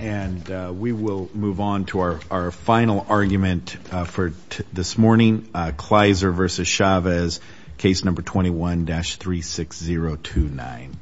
And we will move on to our final argument for this morning, Kleiser v. Chavez, case number 21-36029.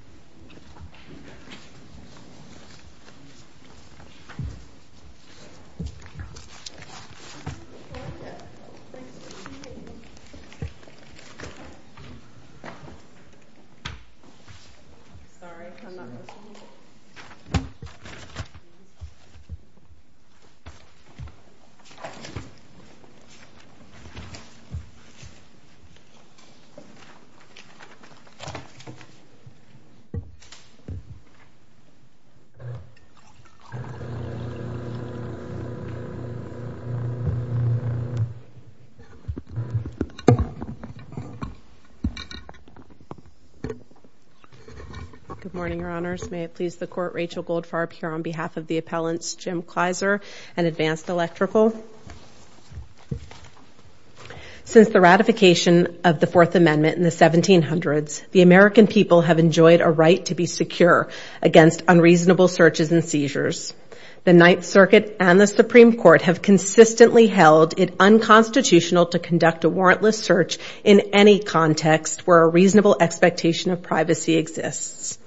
Rachel Goldfarb Good morning, Your Honors. May it please the Court, Rachel Goldfarb here on behalf of the appellants Jim Kleiser and Advanced Electrical. Since the ratification of the Fourth Amendment in the 1700s, the American people have enjoyed a right to be secure against unreasonable searches and seizures. The Ninth Circuit and the Supreme Court have consistently held it unconstitutional to conduct a warrantless search in any context where a reasonable expectation of privacy exists.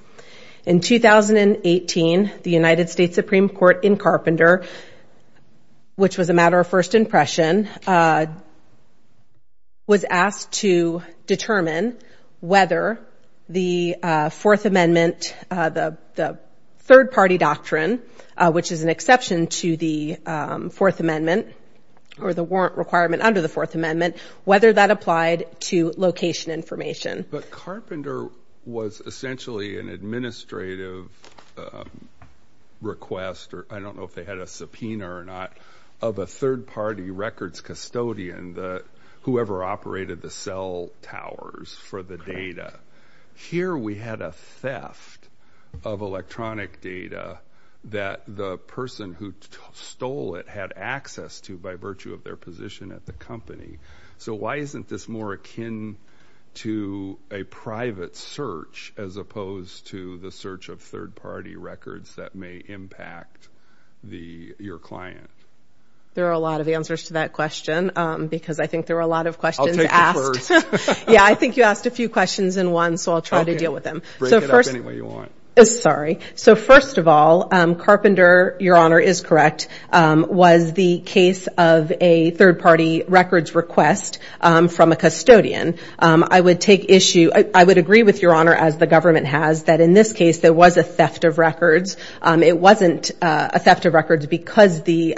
In 2018, the United States Supreme Court in Carpenter, which was a matter of first impression, was asked to determine whether the Fourth Amendment, the third-party doctrine, which is an exception to the Fourth Amendment or the warrant requirement under the Fourth Amendment, whether that applied to location information. But Carpenter was essentially an administrative request, or I don't know if they had a subpoena or not, of a third-party records custodian, whoever operated the cell towers for the data. Here we had a theft of electronic data that the person who stole it had access to by virtue of their position at the company. So why isn't this more akin to a private search as opposed to the search of third-party records that may impact your client? There are a lot of answers to that question because I think there were a lot of questions asked. I'll take the first. Yeah, I think you asked a few questions in one, so I'll try to deal with them. Break it up any way you want. Sorry. So first of all, Carpenter, Your Honor, is correct, was the case of a third-party records request from a custodian. I would take issue – I would agree with Your Honor, as the government has, that in this case there was a theft of records. It wasn't a theft of records because the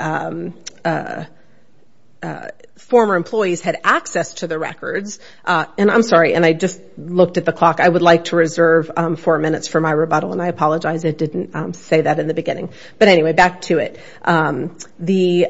former employees had access to the records. I'm sorry, and I just looked at the clock. I would like to reserve four minutes for my rebuttal, and I apologize. I didn't say that in the beginning. But anyway, back to it. The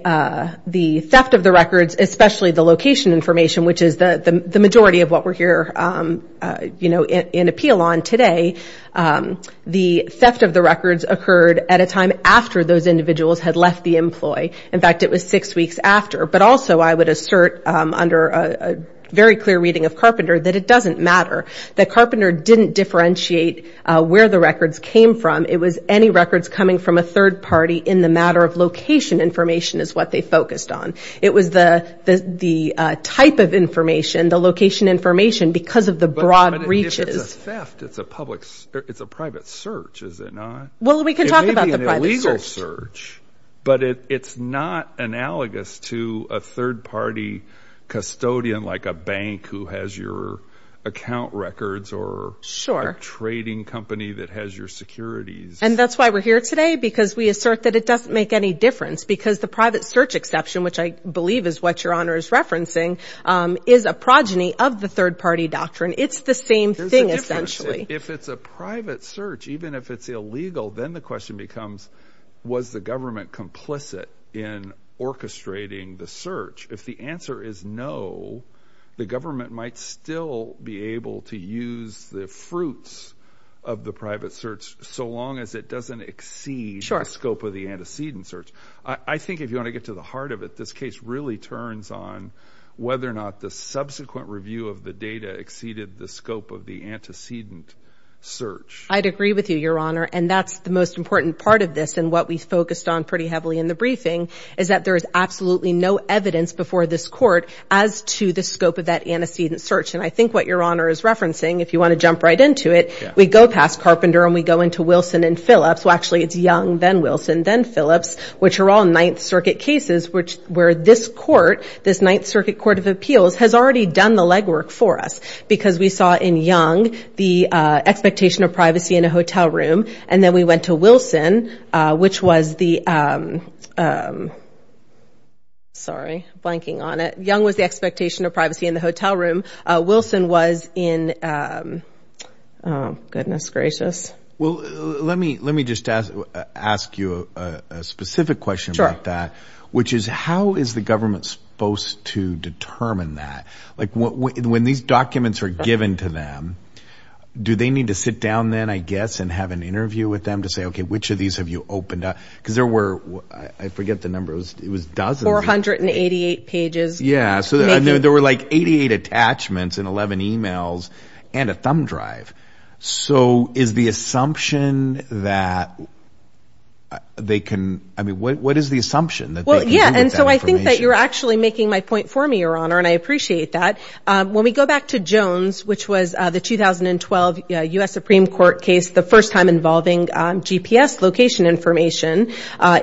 theft of the records, especially the location information, which is the majority of what we're here in appeal on today, the theft of the records occurred at a time after those individuals had left the employee. In fact, it was six weeks after. But also I would assert under a very clear reading of Carpenter that it doesn't matter. The Carpenter didn't differentiate where the records came from. It was any records coming from a third party in the matter of location information is what they focused on. It was the type of information, the location information, because of the broad reaches. But if it's a theft, it's a public – it's a private search, is it not? Well, we can talk about the private search. But it's not analogous to a third party custodian like a bank who has your account records or a trading company that has your securities. And that's why we're here today because we assert that it doesn't make any difference because the private search exception, which I believe is what Your Honor is referencing, is a progeny of the third party doctrine. It's the same thing essentially. If it's a private search, even if it's illegal, then the question becomes, was the government complicit in orchestrating the search? If the answer is no, the government might still be able to use the fruits of the private search so long as it doesn't exceed the scope of the antecedent search. I think if you want to get to the heart of it, this case really turns on whether or not the subsequent review of the data exceeded the scope of the antecedent search. I'd agree with you, Your Honor. And that's the most important part of this and what we focused on pretty heavily in the briefing is that there is absolutely no evidence before this Court as to the scope of that antecedent search. And I think what Your Honor is referencing, if you want to jump right into it, we go past Carpenter and we go into Wilson and Phillips. Well, actually, it's Young, then Wilson, then Phillips, which are all Ninth Circuit cases, where this Court, this Ninth Circuit Court of Appeals, has already done the legwork for us because we saw in Young the expectation of privacy in a hotel room, and then we went to Wilson, which was the, sorry, blanking on it. Young was the expectation of privacy in the hotel room. Wilson was in, oh, goodness gracious. Well, let me just ask you a specific question about that, which is how is the government supposed to determine that? Like when these documents are given to them, do they need to sit down then, I guess, and have an interview with them to say, okay, which of these have you opened up? Because there were, I forget the number, it was dozens of them. 488 pages. Yeah, so there were like 88 attachments and 11 e-mails and a thumb drive. So is the assumption that they can, I mean, what is the assumption that they can do with that information? Well, yeah, and so I think that you're actually making my point for me, Your Honor, and I appreciate that. When we go back to Jones, which was the 2012 U.S. Supreme Court case, the first time involving GPS location information,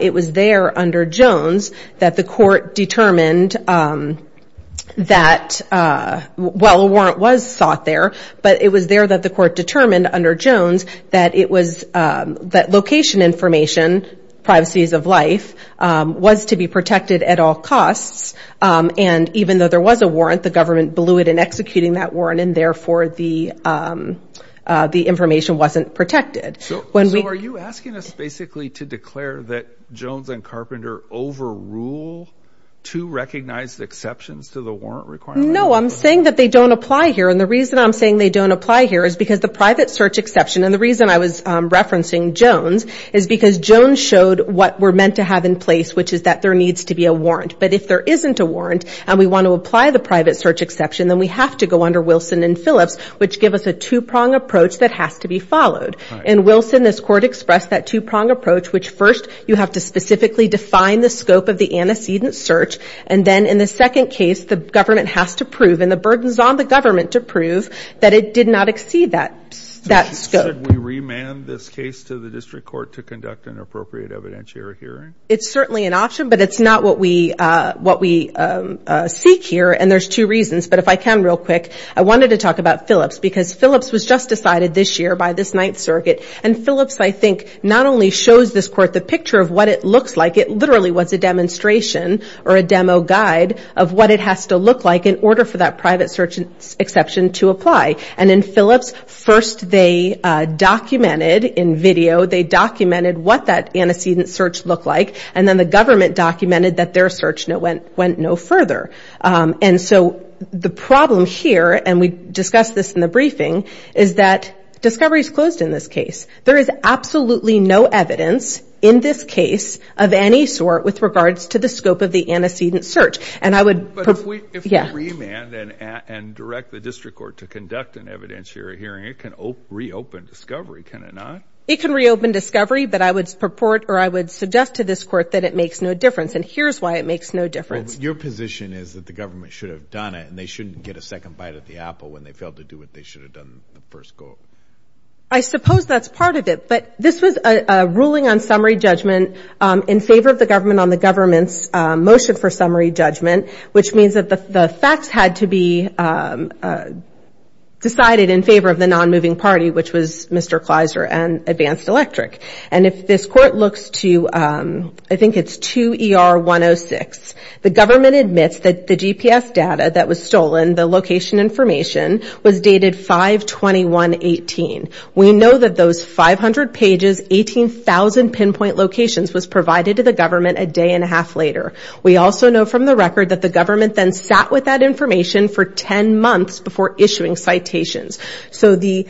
it was there under Jones that the Court determined that, well, a warrant was sought there, but it was there that the Court determined under Jones that location information, privacies of life, was to be protected at all costs. And even though there was a warrant, the government blew it in executing that warrant, and therefore the information wasn't protected. So are you asking us basically to declare that Jones and Carpenter overrule two recognized exceptions to the warrant requirement? No, I'm saying that they don't apply here. And the reason I'm saying they don't apply here is because the private search exception, and the reason I was referencing Jones is because Jones showed what we're meant to have in place, which is that there needs to be a warrant. But if there isn't a warrant and we want to apply the private search exception, then we have to go under Wilson and Phillips, which give us a two-prong approach that has to be followed. In Wilson, this Court expressed that two-prong approach, which first you have to specifically define the scope of the antecedent search, and then in the second case, the government has to prove, and the burden is on the government to prove that it did not exceed that scope. Should we remand this case to the District Court to conduct an appropriate evidentiary hearing? It's certainly an option, but it's not what we seek here, and there's two reasons. But if I can real quick, I wanted to talk about Phillips, because Phillips was just decided this year by this Ninth Circuit, and Phillips, I think, not only shows this Court the picture of what it looks like, it literally was a demonstration or a demo guide of what it has to look like in order for that private search exception to apply. And in Phillips, first they documented in video, they documented what that antecedent search looked like, and then the government documented that their search went no further. And so the problem here, and we discussed this in the briefing, is that discovery is closed in this case. There is absolutely no evidence in this case of any sort with regards to the scope of the antecedent search. But if we remand and direct the District Court to conduct an evidentiary hearing, it can reopen discovery, can it not? It can reopen discovery, but I would suggest to this Court that it makes no difference, and here's why it makes no difference. Your position is that the government should have done it, and they shouldn't get a second bite of the apple when they failed to do what they should have done in the first court. I suppose that's part of it, but this was a ruling on summary judgment in favor of the government on the government's motion for summary judgment, which means that the facts had to be decided in favor of the non-moving party, which was Mr. Kleiser and Advanced Electric. And if this Court looks to, I think it's 2 ER 106, the government admits that the GPS data that was stolen, the location information, was dated 5-21-18. We know that those 500 pages, 18,000 pinpoint locations, was provided to the government a day and a half later. We also know from the record that the government then sat with that information for 10 months before issuing citations. So the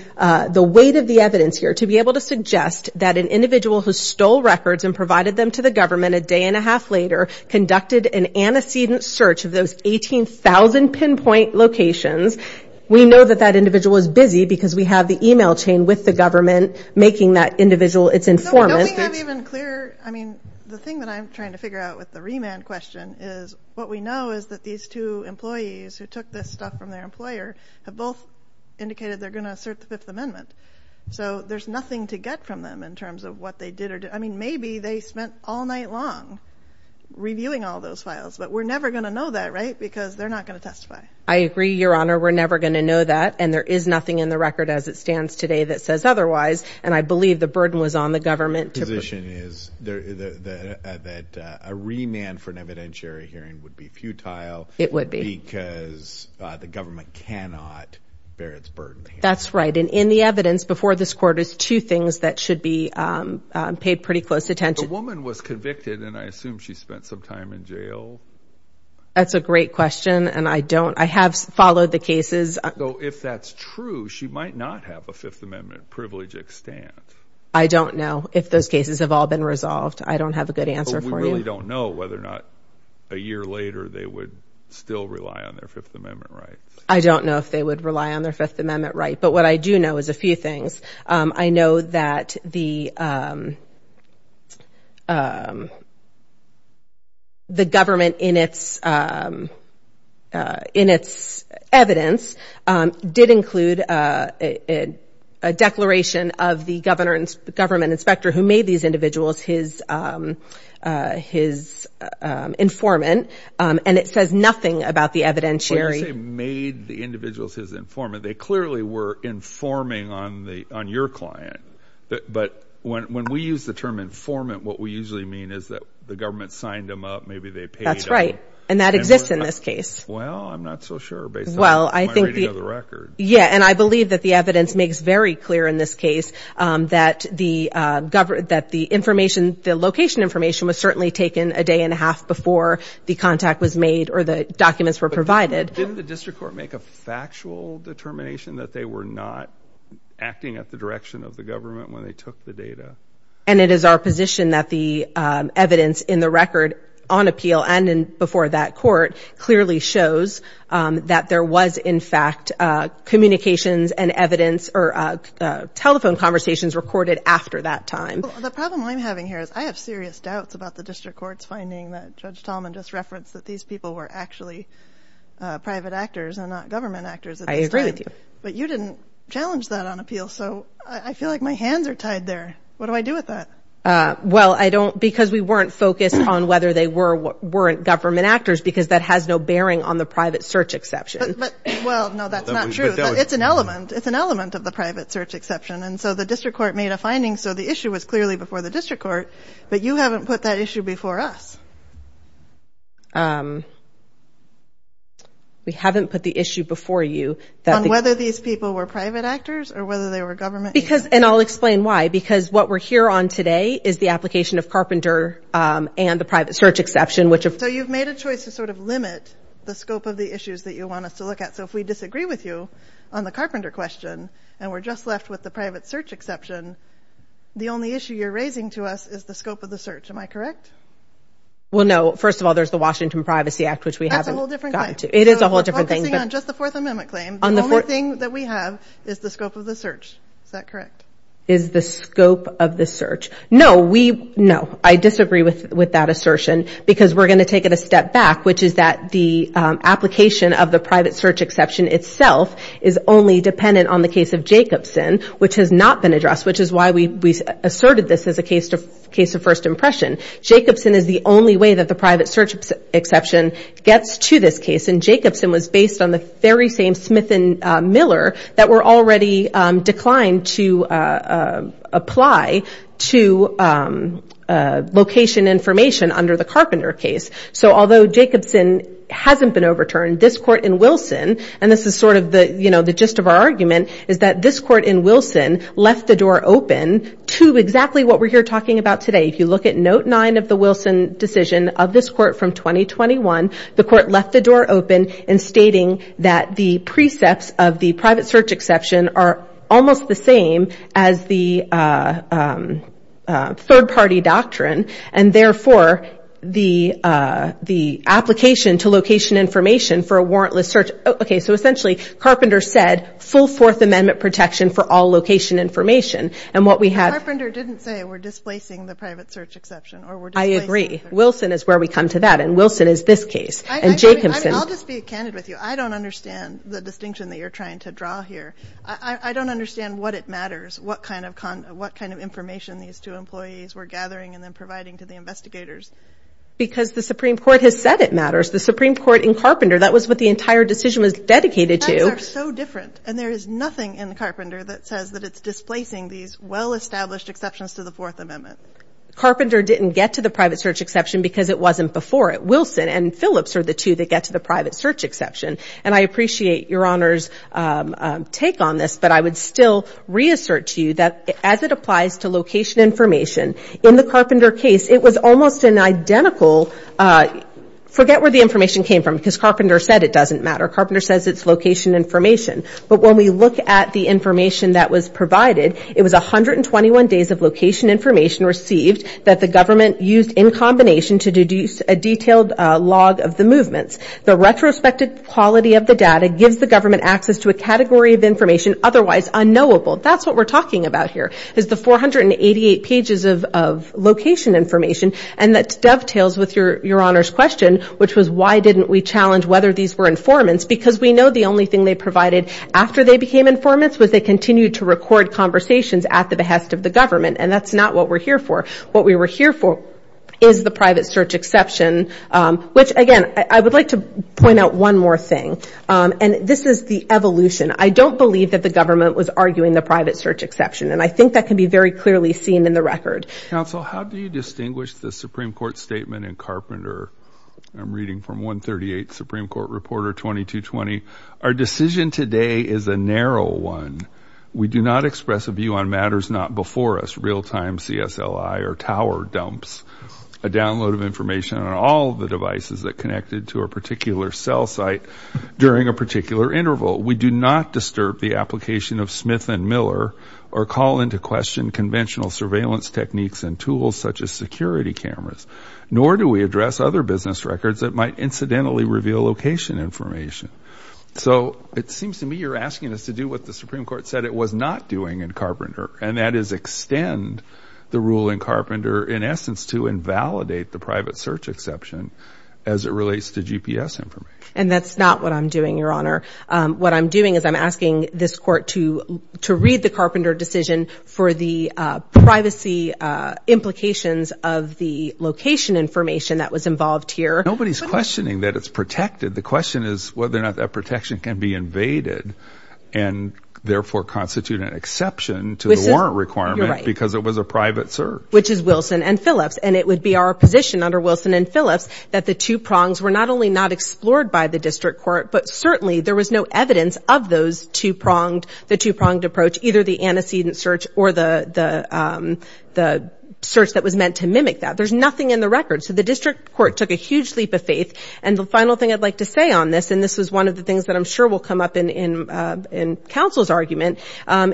weight of the evidence here to be able to suggest that an individual who stole records and provided them to the government a day and a half later conducted an antecedent search of those 18,000 pinpoint locations, we know that that individual is busy because we have the email chain with the government making that individual its informant. So don't we have even clearer, I mean, the thing that I'm trying to figure out with the remand question is what we know is that these two employees who took this stuff from their employer have both indicated they're going to assert the Fifth Amendment. So there's nothing to get from them in terms of what they did or didn't. I mean, maybe they spent all night long reviewing all those files, but we're never going to know that, right, because they're not going to testify. I agree, Your Honor. We're never going to know that, and there is nothing in the record as it stands today that says otherwise. And I believe the burden was on the government. The position is that a remand for an evidentiary hearing would be futile. It would be. Because the government cannot bear its burden. That's right. And in the evidence before this Court is two things that should be paid pretty close attention. The woman was convicted, and I assume she spent some time in jail. That's a great question, and I don't. I have followed the cases. So if that's true, she might not have a Fifth Amendment privilege extant. I don't know if those cases have all been resolved. I don't have a good answer for you. But we really don't know whether or not a year later they would still rely on their Fifth Amendment rights. I don't know if they would rely on their Fifth Amendment rights. But what I do know is a few things. I know that the government in its evidence did include a declaration of the government inspector who made these individuals his informant, and it says nothing about the evidentiary. When you say made the individuals his informant, they clearly were informing on your client. But when we use the term informant, what we usually mean is that the government signed them up, maybe they paid them. That's right, and that exists in this case. Well, I'm not so sure based on my reading of the record. Yeah, and I believe that the evidence makes very clear in this case that the information, the location information, was certainly taken a day and a half before the contact was made or the documents were provided. Didn't the district court make a factual determination that they were not acting at the direction of the government when they took the data? And it is our position that the evidence in the record on appeal and before that court clearly shows that there was, in fact, communications and evidence or telephone conversations recorded after that time. The problem I'm having here is I have serious doubts about the district court's finding that Judge Tallman just referenced that these people were actually private actors and not government actors at this time. I agree with you. But you didn't challenge that on appeal, so I feel like my hands are tied there. What do I do with that? Well, because we weren't focused on whether they weren't government actors because that has no bearing on the private search exception. Well, no, that's not true. It's an element of the private search exception, and so the district court made a finding so the issue was clearly before the district court, but you haven't put that issue before us. We haven't put the issue before you. On whether these people were private actors or whether they were government actors? And I'll explain why. Because what we're here on today is the application of Carpenter and the private search exception. So you've made a choice to sort of limit the scope of the issues that you want us to look at. So if we disagree with you on the Carpenter question and we're just left with the private search exception, the only issue you're raising to us is the scope of the search. Am I correct? Well, no. First of all, there's the Washington Privacy Act, which we haven't gotten to. That's a whole different thing. It is a whole different thing. So we're focusing on just the Fourth Amendment claim. The only thing that we have is the scope of the search. Is that correct? Is the scope of the search. No, I disagree with that assertion because we're going to take it a step back, which is that the application of the private search exception itself is only dependent on the case of Jacobson, which has not been addressed, which is why we asserted this as a case of first impression. Jacobson is the only way that the private search exception gets to this case, and Jacobson was based on the very same Smith and Miller that were already declined to apply to location information under the Carpenter case. So although Jacobson hasn't been overturned, this court in Wilson, and this is sort of the gist of our argument, is that this court in Wilson left the door open to exactly what we're here talking about today. If you look at Note 9 of the Wilson decision of this court from 2021, the court left the door open in stating that the precepts of the private search exception are almost the same as the third-party doctrine, and therefore the application to location information for a warrantless search... Okay, so essentially Carpenter said full Fourth Amendment protection for all location information. And what we have... Carpenter didn't say we're displacing the private search exception. I agree. Wilson is where we come to that, and Wilson is this case. And Jacobson... I'll just be candid with you. I don't understand the distinction that you're trying to draw here. I don't understand what it matters, what kind of information these two employees were gathering and then providing to the investigators. Because the Supreme Court has said it matters. The Supreme Court in Carpenter, that was what the entire decision was dedicated to. Times are so different, and there is nothing in Carpenter that says that it's displacing these well-established exceptions to the Fourth Amendment. Carpenter didn't get to the private search exception because it wasn't before it. Wilson and Phillips are the two that get to the private search exception. And I appreciate Your Honor's take on this, but I would still reassert to you that as it applies to location information, in the Carpenter case, it was almost an identical... Carpenter said it doesn't matter. Carpenter says it's location information. But when we look at the information that was provided, it was 121 days of location information received that the government used in combination to deduce a detailed log of the movements. The retrospective quality of the data gives the government access to a category of information otherwise unknowable. That's what we're talking about here, is the 488 pages of location information. And that dovetails with Your Honor's question, which was why didn't we challenge whether these were informants? Because we know the only thing they provided after they became informants was they continued to record conversations at the behest of the government. And that's not what we're here for. What we were here for is the private search exception, which, again, I would like to point out one more thing. And this is the evolution. I don't believe that the government was arguing the private search exception. And I think that can be very clearly seen in the record. Counsel, how do you distinguish the Supreme Court statement in Carpenter? I'm reading from 138, Supreme Court Reporter 2220. Our decision today is a narrow one. We do not express a view on matters not before us, real-time CSLI or tower dumps, a download of information on all the devices that connected to a particular cell site during a particular interval. We do not disturb the application of Smith and Miller or call into question conventional surveillance techniques and tools such as security cameras, nor do we address other business records that might incidentally reveal location information. So it seems to me you're asking us to do what the Supreme Court said it was not doing in Carpenter, and that is extend the rule in Carpenter, in essence, to invalidate the private search exception as it relates to GPS information. And that's not what I'm doing, Your Honor. What I'm doing is I'm asking this Court to read the Carpenter decision for the privacy implications of the location information that was involved here. Nobody's questioning that it's protected. The question is whether or not that protection can be invaded and therefore constitute an exception to the warrant requirement because it was a private search. Which is Wilson and Phillips, and it would be our position under Wilson and Phillips that the two prongs were not only not explored by the district court, but certainly there was no evidence of those two pronged, the two-pronged approach, either the antecedent search or the search that was meant to mimic that. There's nothing in the record. So the district court took a huge leap of faith, and the final thing I'd like to say on this, and this is one of the things that I'm sure will come up in counsel's argument,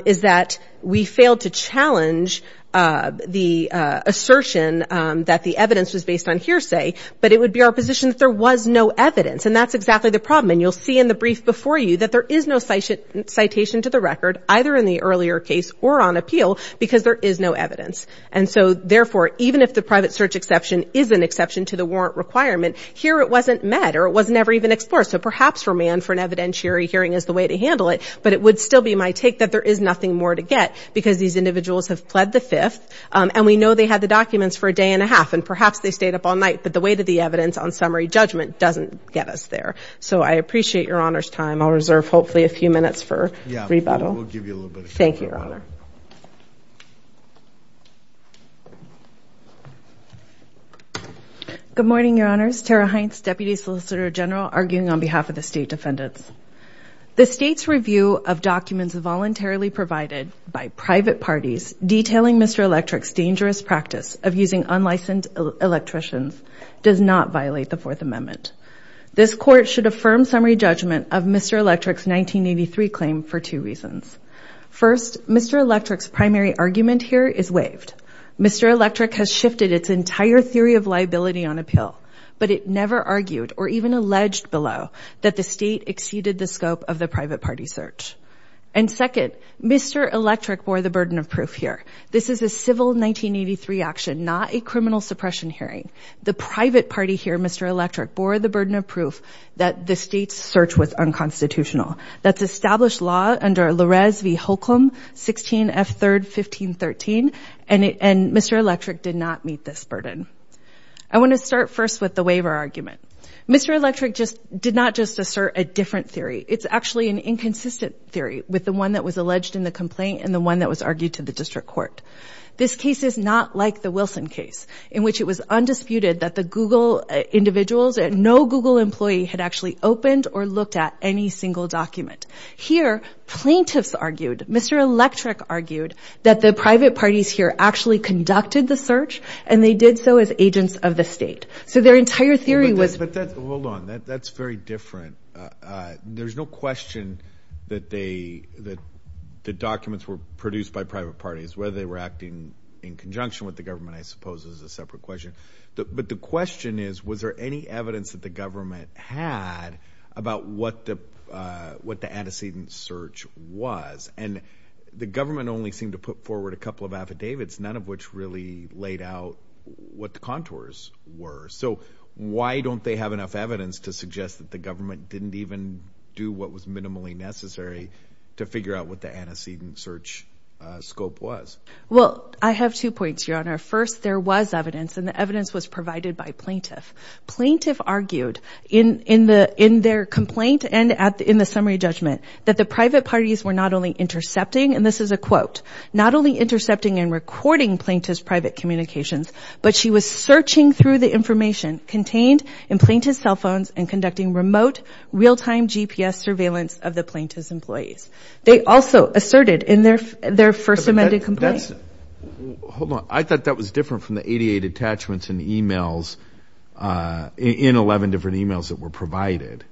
is that we failed to challenge the assertion that the evidence was based on hearsay, but it would be our position that there was no evidence, and that's exactly the problem. And you'll see in the brief before you that there is no citation to the record, either in the earlier case or on appeal, because there is no evidence. And so, therefore, even if the private search exception is an exception to the warrant requirement, here it wasn't met, or it was never even explored. So perhaps remand for an evidentiary hearing is the way to handle it, but it would still be my take that there is nothing more to get because these individuals have pled the fifth, and we know they had the documents for a day and a half, and perhaps they stayed up all night, but the weight of the evidence on summary judgment doesn't get us there. So I appreciate Your Honor's time. I'll reserve, hopefully, a few minutes for rebuttal. Yeah, we'll give you a little bit of time. Thank you, Your Honor. Good morning, Your Honors. Tara Heintz, Deputy Solicitor General, arguing on behalf of the state defendants. The state's review of documents voluntarily provided by private parties detailing Mr. Electric's dangerous practice of using unlicensed electricians does not violate the Fourth Amendment. This Court should affirm summary judgment of Mr. Electric's 1983 claim for two reasons. First, Mr. Electric's primary argument here is waived. Mr. Electric has shifted its entire theory of liability on appeal, but it never argued or even alleged below that the state exceeded the scope of the private party search. And second, Mr. Electric bore the burden of proof here. This is a civil 1983 action, not a criminal suppression hearing. The private party here, Mr. Electric, bore the burden of proof that the state's search was unconstitutional. That's established law under Larez v. Holcomb, 16 F. 3rd, 1513, and Mr. Electric did not meet this burden. I want to start first with the waiver argument. Mr. Electric did not just assert a different theory. It's actually an inconsistent theory with the one that was alleged in the complaint and the one that was argued to the district court. This case is not like the Wilson case, in which it was undisputed that the Google individuals, no Google employee had actually opened or looked at any single document. Here, plaintiffs argued, Mr. Electric argued, that the private parties here actually conducted the search and they did so as agents of the state. So their entire theory was... But that, hold on, that's very different. There's no question that they, that the documents were produced by private parties, whether they were acting in conjunction with the government, I suppose, is a separate question. But the question is, was there any evidence that the government had about what the antecedent search was? And the government only seemed to put forward a couple of affidavits, none of which really laid out what the contours were. So why don't they have enough evidence to suggest that the government didn't even do what was minimally necessary to figure out what the antecedent search scope was? Well, I have two points, Your Honor. First, there was evidence, and the evidence was provided by plaintiff. Plaintiff argued in their complaint and in the summary judgment that the private parties were not only intercepting, and this is a quote, not only intercepting and recording plaintiff's private communications, but she was searching through the information and conducting remote, real-time GPS surveillance of the plaintiff's employees. They also asserted in their first amended complaint... Hold on. I thought that was different from the 88 attachments in the e-mails, in 11 different e-mails that were provided.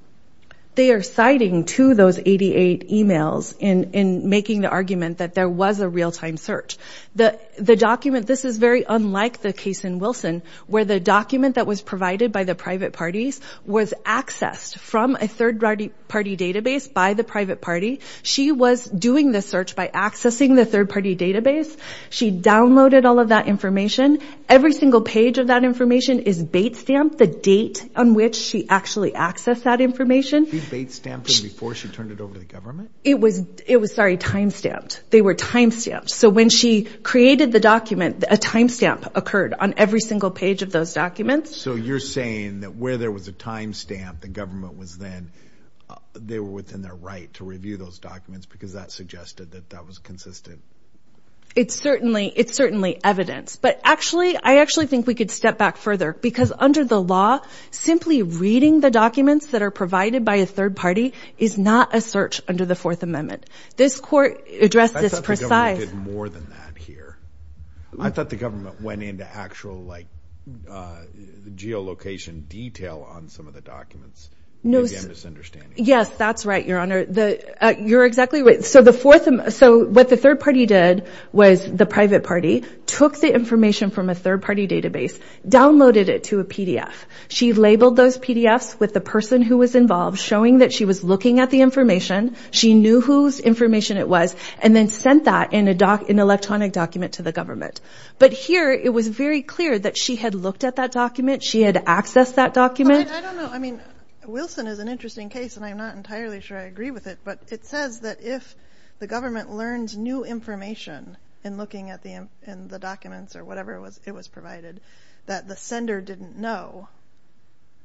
They are citing two of those 88 e-mails in making the argument that there was a real-time search. The document, this is very unlike the case in Wilson, where the document that was provided by the private parties was accessed from a third-party database by the private party. She was doing the search by accessing the third-party database. She downloaded all of that information. Every single page of that information is bait-stamped, the date on which she actually accessed that information. She bait-stamped it before she turned it over to the government? It was, sorry, time-stamped. They were time-stamped. So when she created the document, a time-stamp occurred on every single page of those documents. So you're saying that where there was a time-stamp, the government was then... it was in their right to review those documents because that suggested that that was consistent? It's certainly evidence. But actually, I actually think we could step back further because under the law, simply reading the documents that are provided by a third party is not a search under the Fourth Amendment. This court addressed this precisely. I thought the government did more than that here. geolocation detail on some of the documents. Yes, that's right, Your Honor. You're exactly right. So what the third party did was the private party took the information from a third-party database, downloaded it to a PDF. She labeled those PDFs with the person who was involved, showing that she was looking at the information, she knew whose information it was, and then sent that in an electronic document to the government. But here, it was very clear that she had looked at that document, she had accessed that document. I don't know. I mean, Wilson is an interesting case, and I'm not entirely sure I agree with it, but it says that if the government learns new information in looking at the documents or whatever it was provided that the sender didn't know,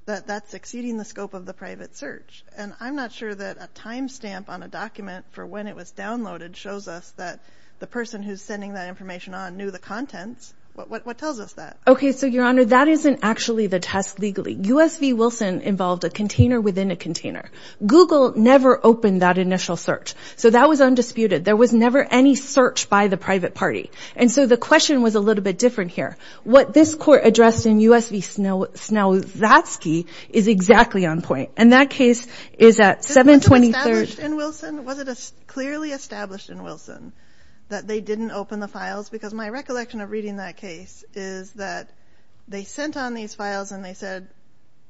that that's exceeding the scope of the private search. And I'm not sure that a timestamp on a document for when it was downloaded shows us that the person who's sending that information on knew the contents. What tells us that? Okay, so, Your Honor, that isn't actually the test legally. U.S. v. Wilson involved a container within a container. Google never opened that initial search. So that was undisputed. There was never any search by the private party. And so the question was a little bit different here. What this court addressed in U.S. v. Snauzatsky And that case is at 7-23rd. Wasn't it established in Wilson? Was it clearly established in Wilson that they didn't open the files? Because my recollection of reading that case is that they sent on these files, and they said,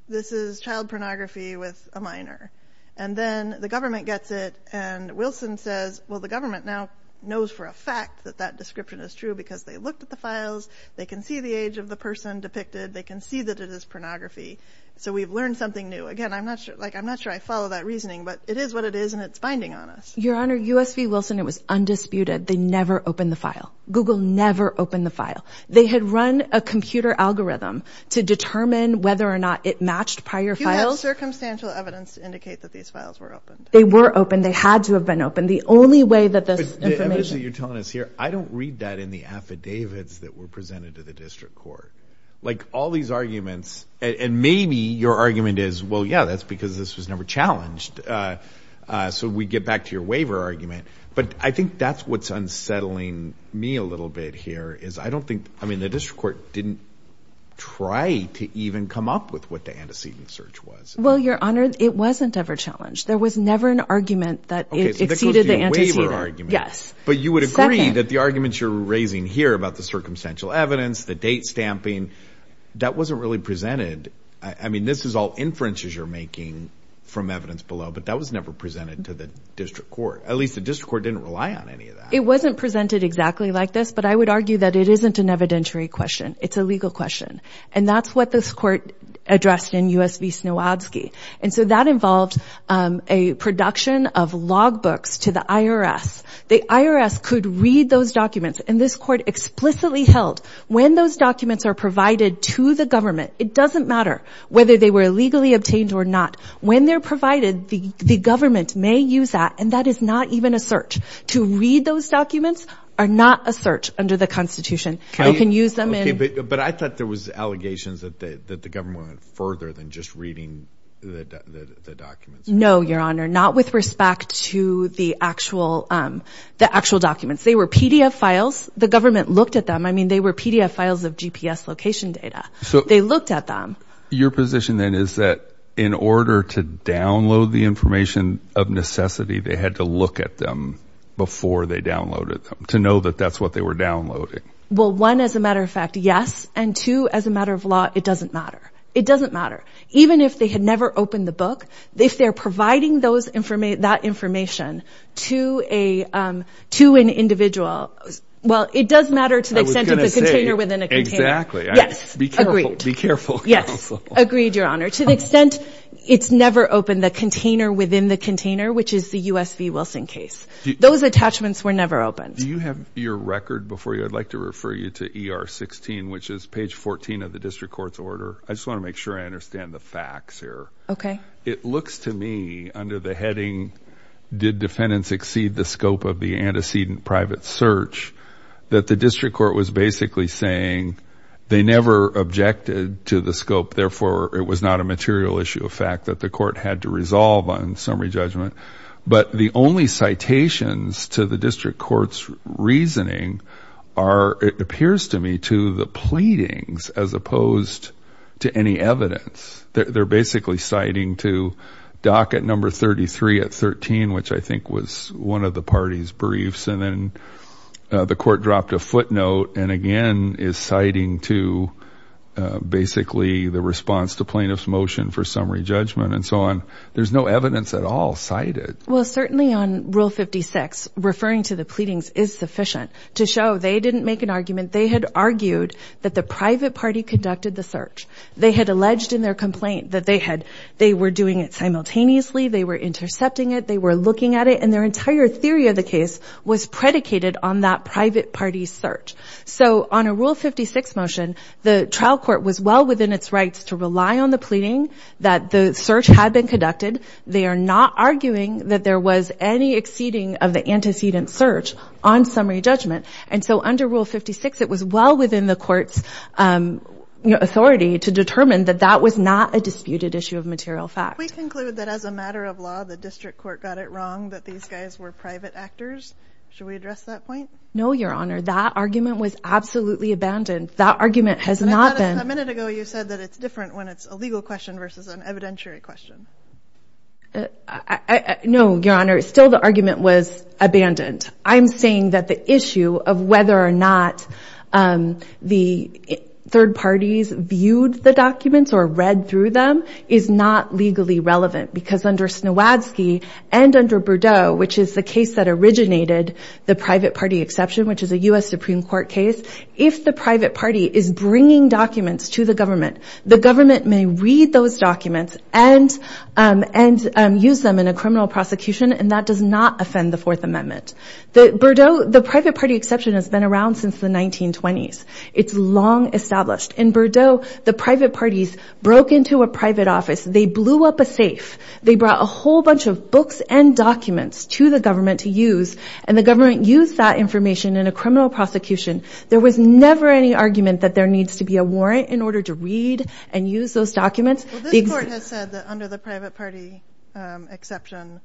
this is child pornography with a minor. And then the government gets it, and Wilson says, well, the government now knows for a fact that that description is true because they looked at the files, they can see the age of the person depicted, they can see that it is pornography. So we've learned something new. Again, I'm not sure I follow that reasoning, but it is what it is, and it's binding on us. Your Honor, U.S. v. Wilson, it was undisputed. They never opened the file. Google never opened the file. They had run a computer algorithm to determine whether or not it matched prior files. You have circumstantial evidence to indicate that these files were opened. They were opened. They had to have been opened. The only way that this information... But the evidence that you're telling us here, I don't read that in the affidavits that were presented to the district court. Like, all these arguments, and maybe your argument is, well, yeah, that's because this was never challenged. So we get back to your waiver argument. But I think that's what's unsettling me a little bit here, is I don't think... I mean, the district court didn't try to even come up with what the antecedent search was. Well, Your Honor, it wasn't ever challenged. There was never an argument that it exceeded the antecedent. Okay, so this was a waiver argument. Yes. But you would agree that the arguments you're raising here about the circumstantial evidence, the date stamping, I mean, that wasn't really presented... I mean, this is all inferences you're making from evidence below, but that was never presented to the district court. At least the district court didn't rely on any of that. It wasn't presented exactly like this, but I would argue that it isn't an evidentiary question. It's a legal question. And that's what this court addressed in U.S. v. Snowadzki. And so that involved a production of logbooks to the IRS. The IRS could read those documents, and this court explicitly held when those documents are provided to the government, it doesn't matter whether they were illegally obtained or not. When they're provided, the government may use that, and that is not even a search. To read those documents are not a search under the Constitution. You can use them in... But I thought there was allegations that the government went further than just reading the documents. No, Your Honor, not with respect to the actual documents. They were PDF files. The government looked at them. I mean, they were PDF files of GPS location data. They looked at them. Your position, then, is that in order to download the information of necessity, they had to look at them before they downloaded them, to know that that's what they were downloading? Well, one, as a matter of fact, yes. And two, as a matter of law, it doesn't matter. It doesn't matter. Even if they had never opened the book, if they're providing that information to an individual... Well, it does matter to the extent of the container within a container. Exactly. Be careful, counsel. Agreed, Your Honor. To the extent it's never opened the container within the container, which is the U.S. v. Wilson case. Those attachments were never opened. Do you have your record before you? I'd like to refer you to ER 16, which is page 14 of the district court's order. I just want to make sure I understand the facts here. Okay. It looks to me, under the heading did defendants exceed the scope of the antecedent private search, that the district court was basically saying they never objected to the scope, therefore it was not a material issue of fact that the court had to resolve on summary judgment. But the only citations to the district court's reasoning are, it appears to me, to the pleadings as opposed to any evidence. They're basically citing to dock at number 33 at 13, which I think was one of the party's briefs. And then the court dropped a footnote and again is citing to basically the response to plaintiff's motion for summary judgment and so on. There's no evidence at all cited. Well, certainly on Rule 56, referring to the pleadings is sufficient to show they didn't make an argument. They had argued that the private party conducted the search. They had alleged in their complaint that they were doing it simultaneously, they were intercepting it, they were looking at it, and their entire theory of the case was predicated on that private party's search. So on a Rule 56 motion, the trial court was well within its rights to rely on the pleading that the search had been conducted. They are not arguing that there was any exceeding of the antecedent search on summary judgment. And so under Rule 56, it was well within the court's authority to determine that that was not a disputed issue of material fact. Can we conclude that as a matter of law the district court got it wrong that these guys were private actors? Should we address that point? No, Your Honor. That argument was absolutely abandoned. That argument has not been... A minute ago you said that it's different when it's a legal question versus an evidentiary question. No, Your Honor. Still the argument was abandoned. I'm saying that the issue of whether or not the third parties viewed the documents or read through them is not legally relevant because under Snowadzki and under Berdow which is the case that originated the private party exception which is a U.S. Supreme Court case if the private party is bringing documents to the government, the government may read those documents and use them in a criminal prosecution and that does not offend the Fourth Amendment. The private party exception has been around since the 1920s. It's long established. In Berdow, the private parties broke into a private office. They blew up a safe. They brought a whole bunch of books and documents to the government to use and the government used that information in a criminal prosecution. There was never any argument that there needs to be a warrant in order to read and use those documents. This Court has said that under the private party exception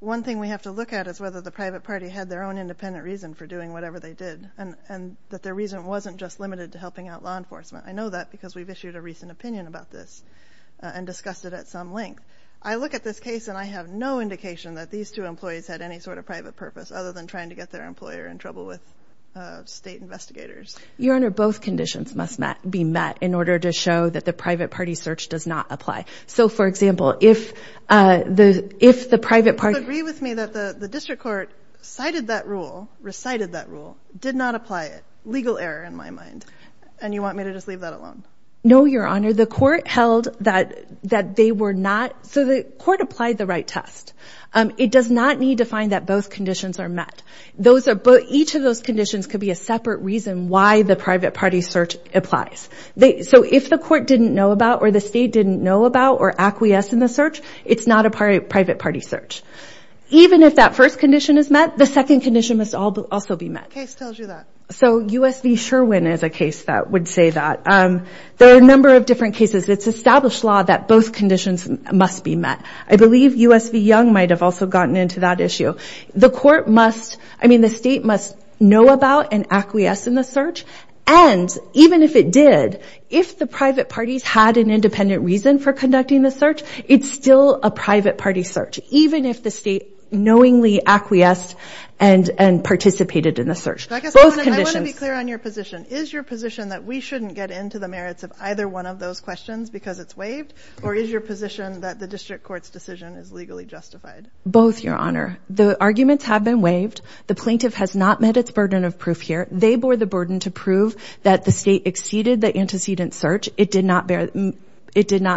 one thing we have to look at is whether the private party had their own independent reason for doing whatever they did and that their reason wasn't just limited to helping out law enforcement. I know that because we've issued a recent opinion about this and discussed it at some length. I look at this case and I have no indication that these two employees had any sort of private purpose other than trying to get their employer in trouble with state investigators. Your Honor, both conditions must be met in order to show that the private party search does not apply. So for example, if the private party... Do you agree with me that the District Court cited that rule, recited that rule, did not apply it? Legal error in my mind. And you want me to just leave that alone? No, Your Honor. The Court held that they were not... So the Court applied the right test. It does not need to find that both conditions are met. Each of those conditions could be a separate reason why the private party search applies. So if the Court didn't know about or the State didn't know about or acquiesced in the search, it's not a private party search. Even if that first condition is met, the second condition must also be met. So U.S. v. Sherwin is a case that would say that. There are a number of different cases. It's established law that both conditions must be met. I believe U.S. v. Young might have also gotten into that issue. The Court must... I mean the State must know about and acquiesce in the search. And even if it did, if the private parties had an independent reason for conducting the search, it's still a private party search, even if the State knowingly acquiesced and participated in the search. I want to be clear on your position. Is your position that we shouldn't get into the merits of either one of those questions because it's waived? Or is your position that the District Court's decision is legally justified? Both, Your Honor. The arguments have been waived. The plaintiff has not met its burden of proof here. They bore the burden to prove that the State exceeded the antecedent search. It did not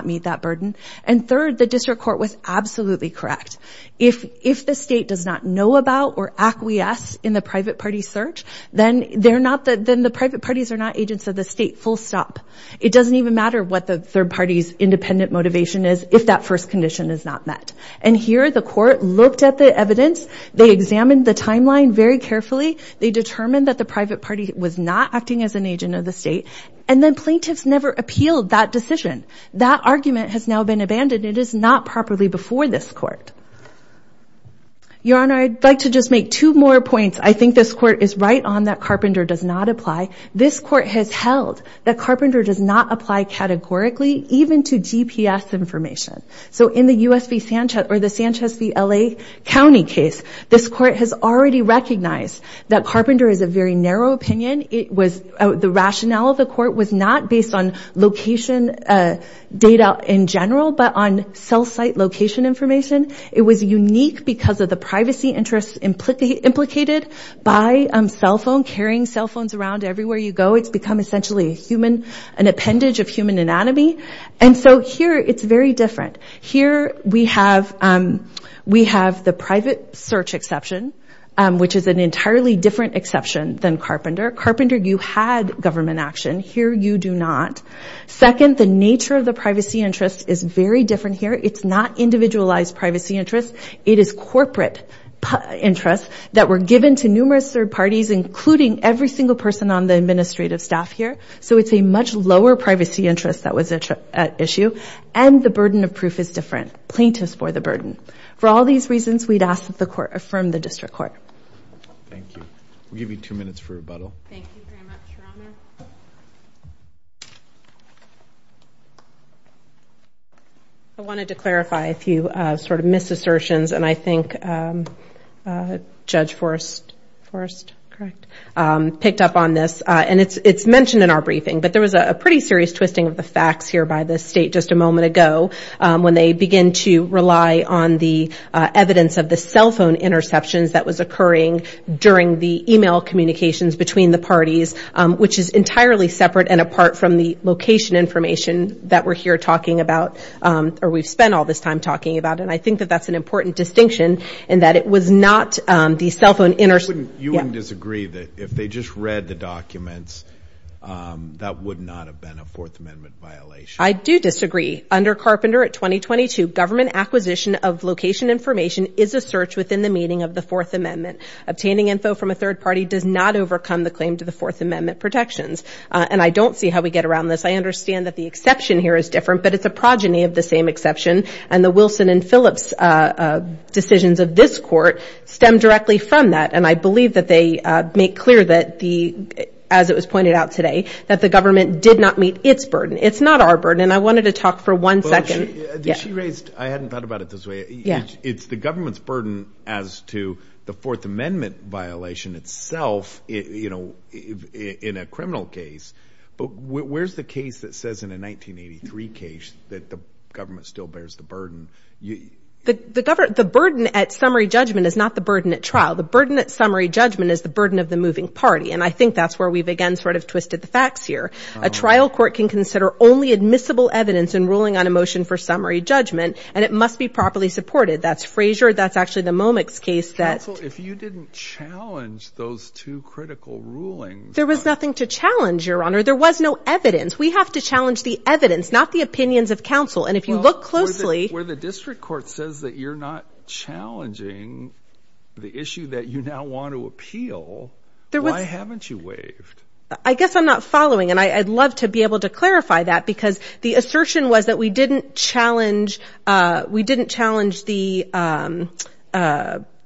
meet that burden. And third, the District Court was absolutely correct. If the State does not know about or acquiesce in the private party search, then the private parties are not agents of the State, full stop. It doesn't even matter what the third party's independent motivation is if that first condition is not met. And here, the Court looked at the evidence. They examined the timeline very carefully. They determined that the private party was not acting as an agent of the State. And then plaintiffs never appealed that decision. That argument has now been abandoned. It is not properly before this Court. Your Honor, I'd like to just make two more points. I think this Court is right on that Carpenter does not apply. This Court has held that Carpenter does not apply categorically, even to GPS information. So in the Sanchez v. L.A. County case, this Court held that Carpenter is a very narrow opinion. The rationale of the Court was not based on location data in general, but on cell site location information. It was unique because of the privacy interests implicated by cell phones, carrying cell phones around everywhere you go. It's become essentially an appendage of human anatomy. And so here, it's very different. Here, we have the private search exception, which is an entirely different exception than Carpenter. Carpenter, you had government action. Here, you do not. Second, the nature of the privacy interests is very different here. It's not individualized privacy interests. It is corporate interests that were given to numerous third parties, including every single person on the administrative staff here. So it's a much lower privacy interest that was at issue. And the burden of proof is different. Plaintiffs bore the burden. For all these reasons, we'd ask that the Court affirm the District Court. Thank you. We'll give you two minutes for rebuttal. Thank you very much, Your Honor. I wanted to clarify a few sort of misassertions, and I think Judge Forrest, picked up on this. And it's mentioned in our briefing, but there was a pretty serious twisting of the facts here by the State just a moment ago when they began to rely on the evidence of the cell phone interceptions that was occurring during the e-mail communications between the parties, which is entirely separate and apart from the location information that we're here talking about, or we've spent all this time talking about. And I think that that's an important distinction, in that it was not the cell phone... You wouldn't disagree that if they just read the documents, that would not have been a Fourth Amendment violation. I do disagree. Under Carpenter at 2022, government acquisition of location information is a search within the meaning of the Fourth Amendment. Obtaining info from a third party does not overcome the claim to the Fourth Amendment protections. And I don't see how we get around this. I understand that the exception here is different, but it's a progeny of the same exception, and the Wilson and Phillips decisions of this Court stem directly from that. And I believe that they make clear that the... as it was pointed out today, that the government did not meet its burden. It's not our burden. And I wanted to talk for one second. She raised... I hadn't thought about it this way. It's the government's burden as to the Fourth Amendment violation itself, you know, in a criminal case. But where's the case that says in a 1983 case that the government still bears the burden? The government... The burden at summary judgment is not the burden at trial. The burden at summary judgment is the burden of the moving party. And I think that's where we've again sort of twisted the facts here. A trial court can consider only admissible evidence in ruling on a motion for summary judgment, and it must be properly supported. That's Frazier. That's actually the Momix case that... Counsel, if you didn't challenge those two critical rulings... There was nothing to challenge, Your Honor. There was no evidence. We have to challenge the evidence, not the opinions of counsel. And if you look closely... Well, where the district court says that you're not challenging the issue that you now want to appeal, why haven't you waived? I guess I'm not following, and I'd love to be able to clarify that, because the assertion was that we didn't challenge we didn't challenge the evidence.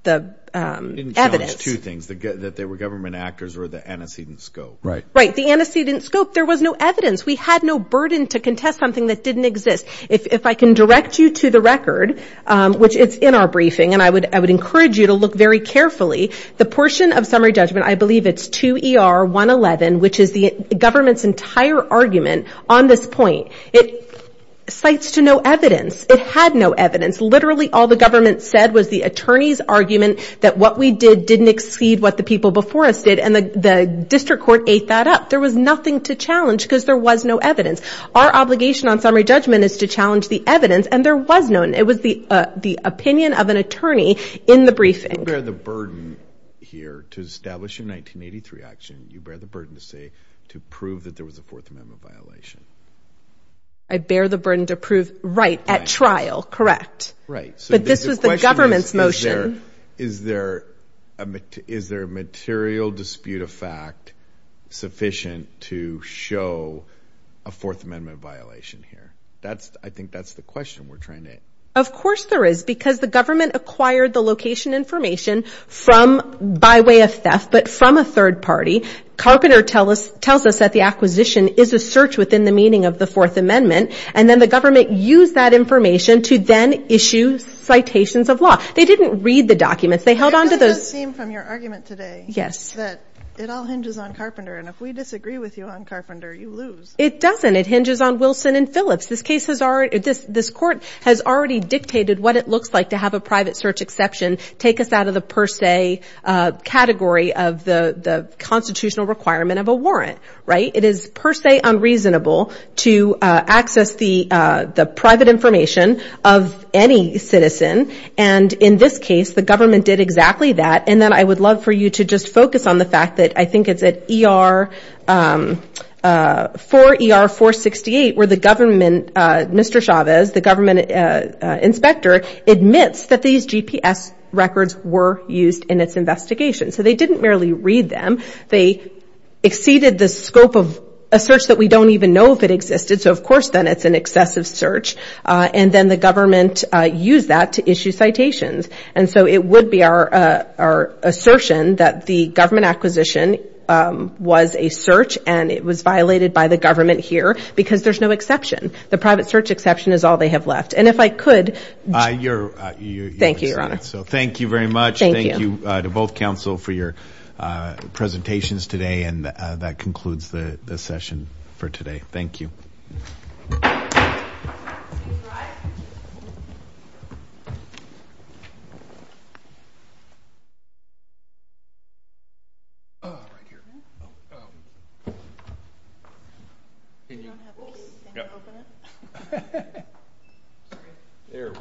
You didn't challenge two things, that they were government actors or the antecedent scope. Right. Right. The antecedent scope, there was no evidence. We had no burden to contest something that didn't exist. If I can direct you to the record, which it's in our briefing, and I would encourage you to look very carefully, the portion of summary judgment, I believe it's 2 ER 111, which is the government's entire argument on this point, it cites to no evidence. It had no evidence. Literally, all the government said was the attorney's argument that what we did didn't exceed what the people before us did, and the district court ate that up. There was nothing to challenge, because there was no evidence. the evidence, and there was none. It was the opinion of an attorney in the briefing. You bear the burden here to establish a 1983 action. You bear the burden to say to prove that there was a Fourth Amendment violation. I bear the burden to prove right at trial. Correct. Right. But this was the government's motion. Is there a material dispute of fact sufficient to show a Fourth Amendment violation here? I think that's the question we're trying to... Of course there is, because the government acquired the location information by way of theft, but from a third party. Carpenter tells us that the acquisition is a search within the meaning of the Fourth Amendment, and then the government used that information to then issue citations of law. They didn't read the documents. It does seem from your argument today that it all hinges on Carpenter, and if we disagree with you on Carpenter, you lose. It doesn't. It hinges on Wilson and Phillips. This court has already dictated what it looks like to have a private search exception take us out of the per se category of the constitutional requirement of a warrant. It is per se unreasonable to access the private information of any citizen, and in this case, the government did exactly that. I would love for you to just focus on the fact that I think it's at 4 ER 468 where the government, Mr. Chavez, the government inspector admits that these GPS records were used in its investigation, so they didn't merely read them. They exceeded the scope of a search that we don't even know if it existed, so of course then it's an excessive search, and then the government used that to issue citations, and so it would be our assertion that the government acquisition was a search, and it was an exceptional exception. The private search exception is all they have left, and if I could Thank you, Your Honor. Thank you very much. Thank you to both counsel for your presentations today, and that concludes the session for today. Thank you. Yep. There we are.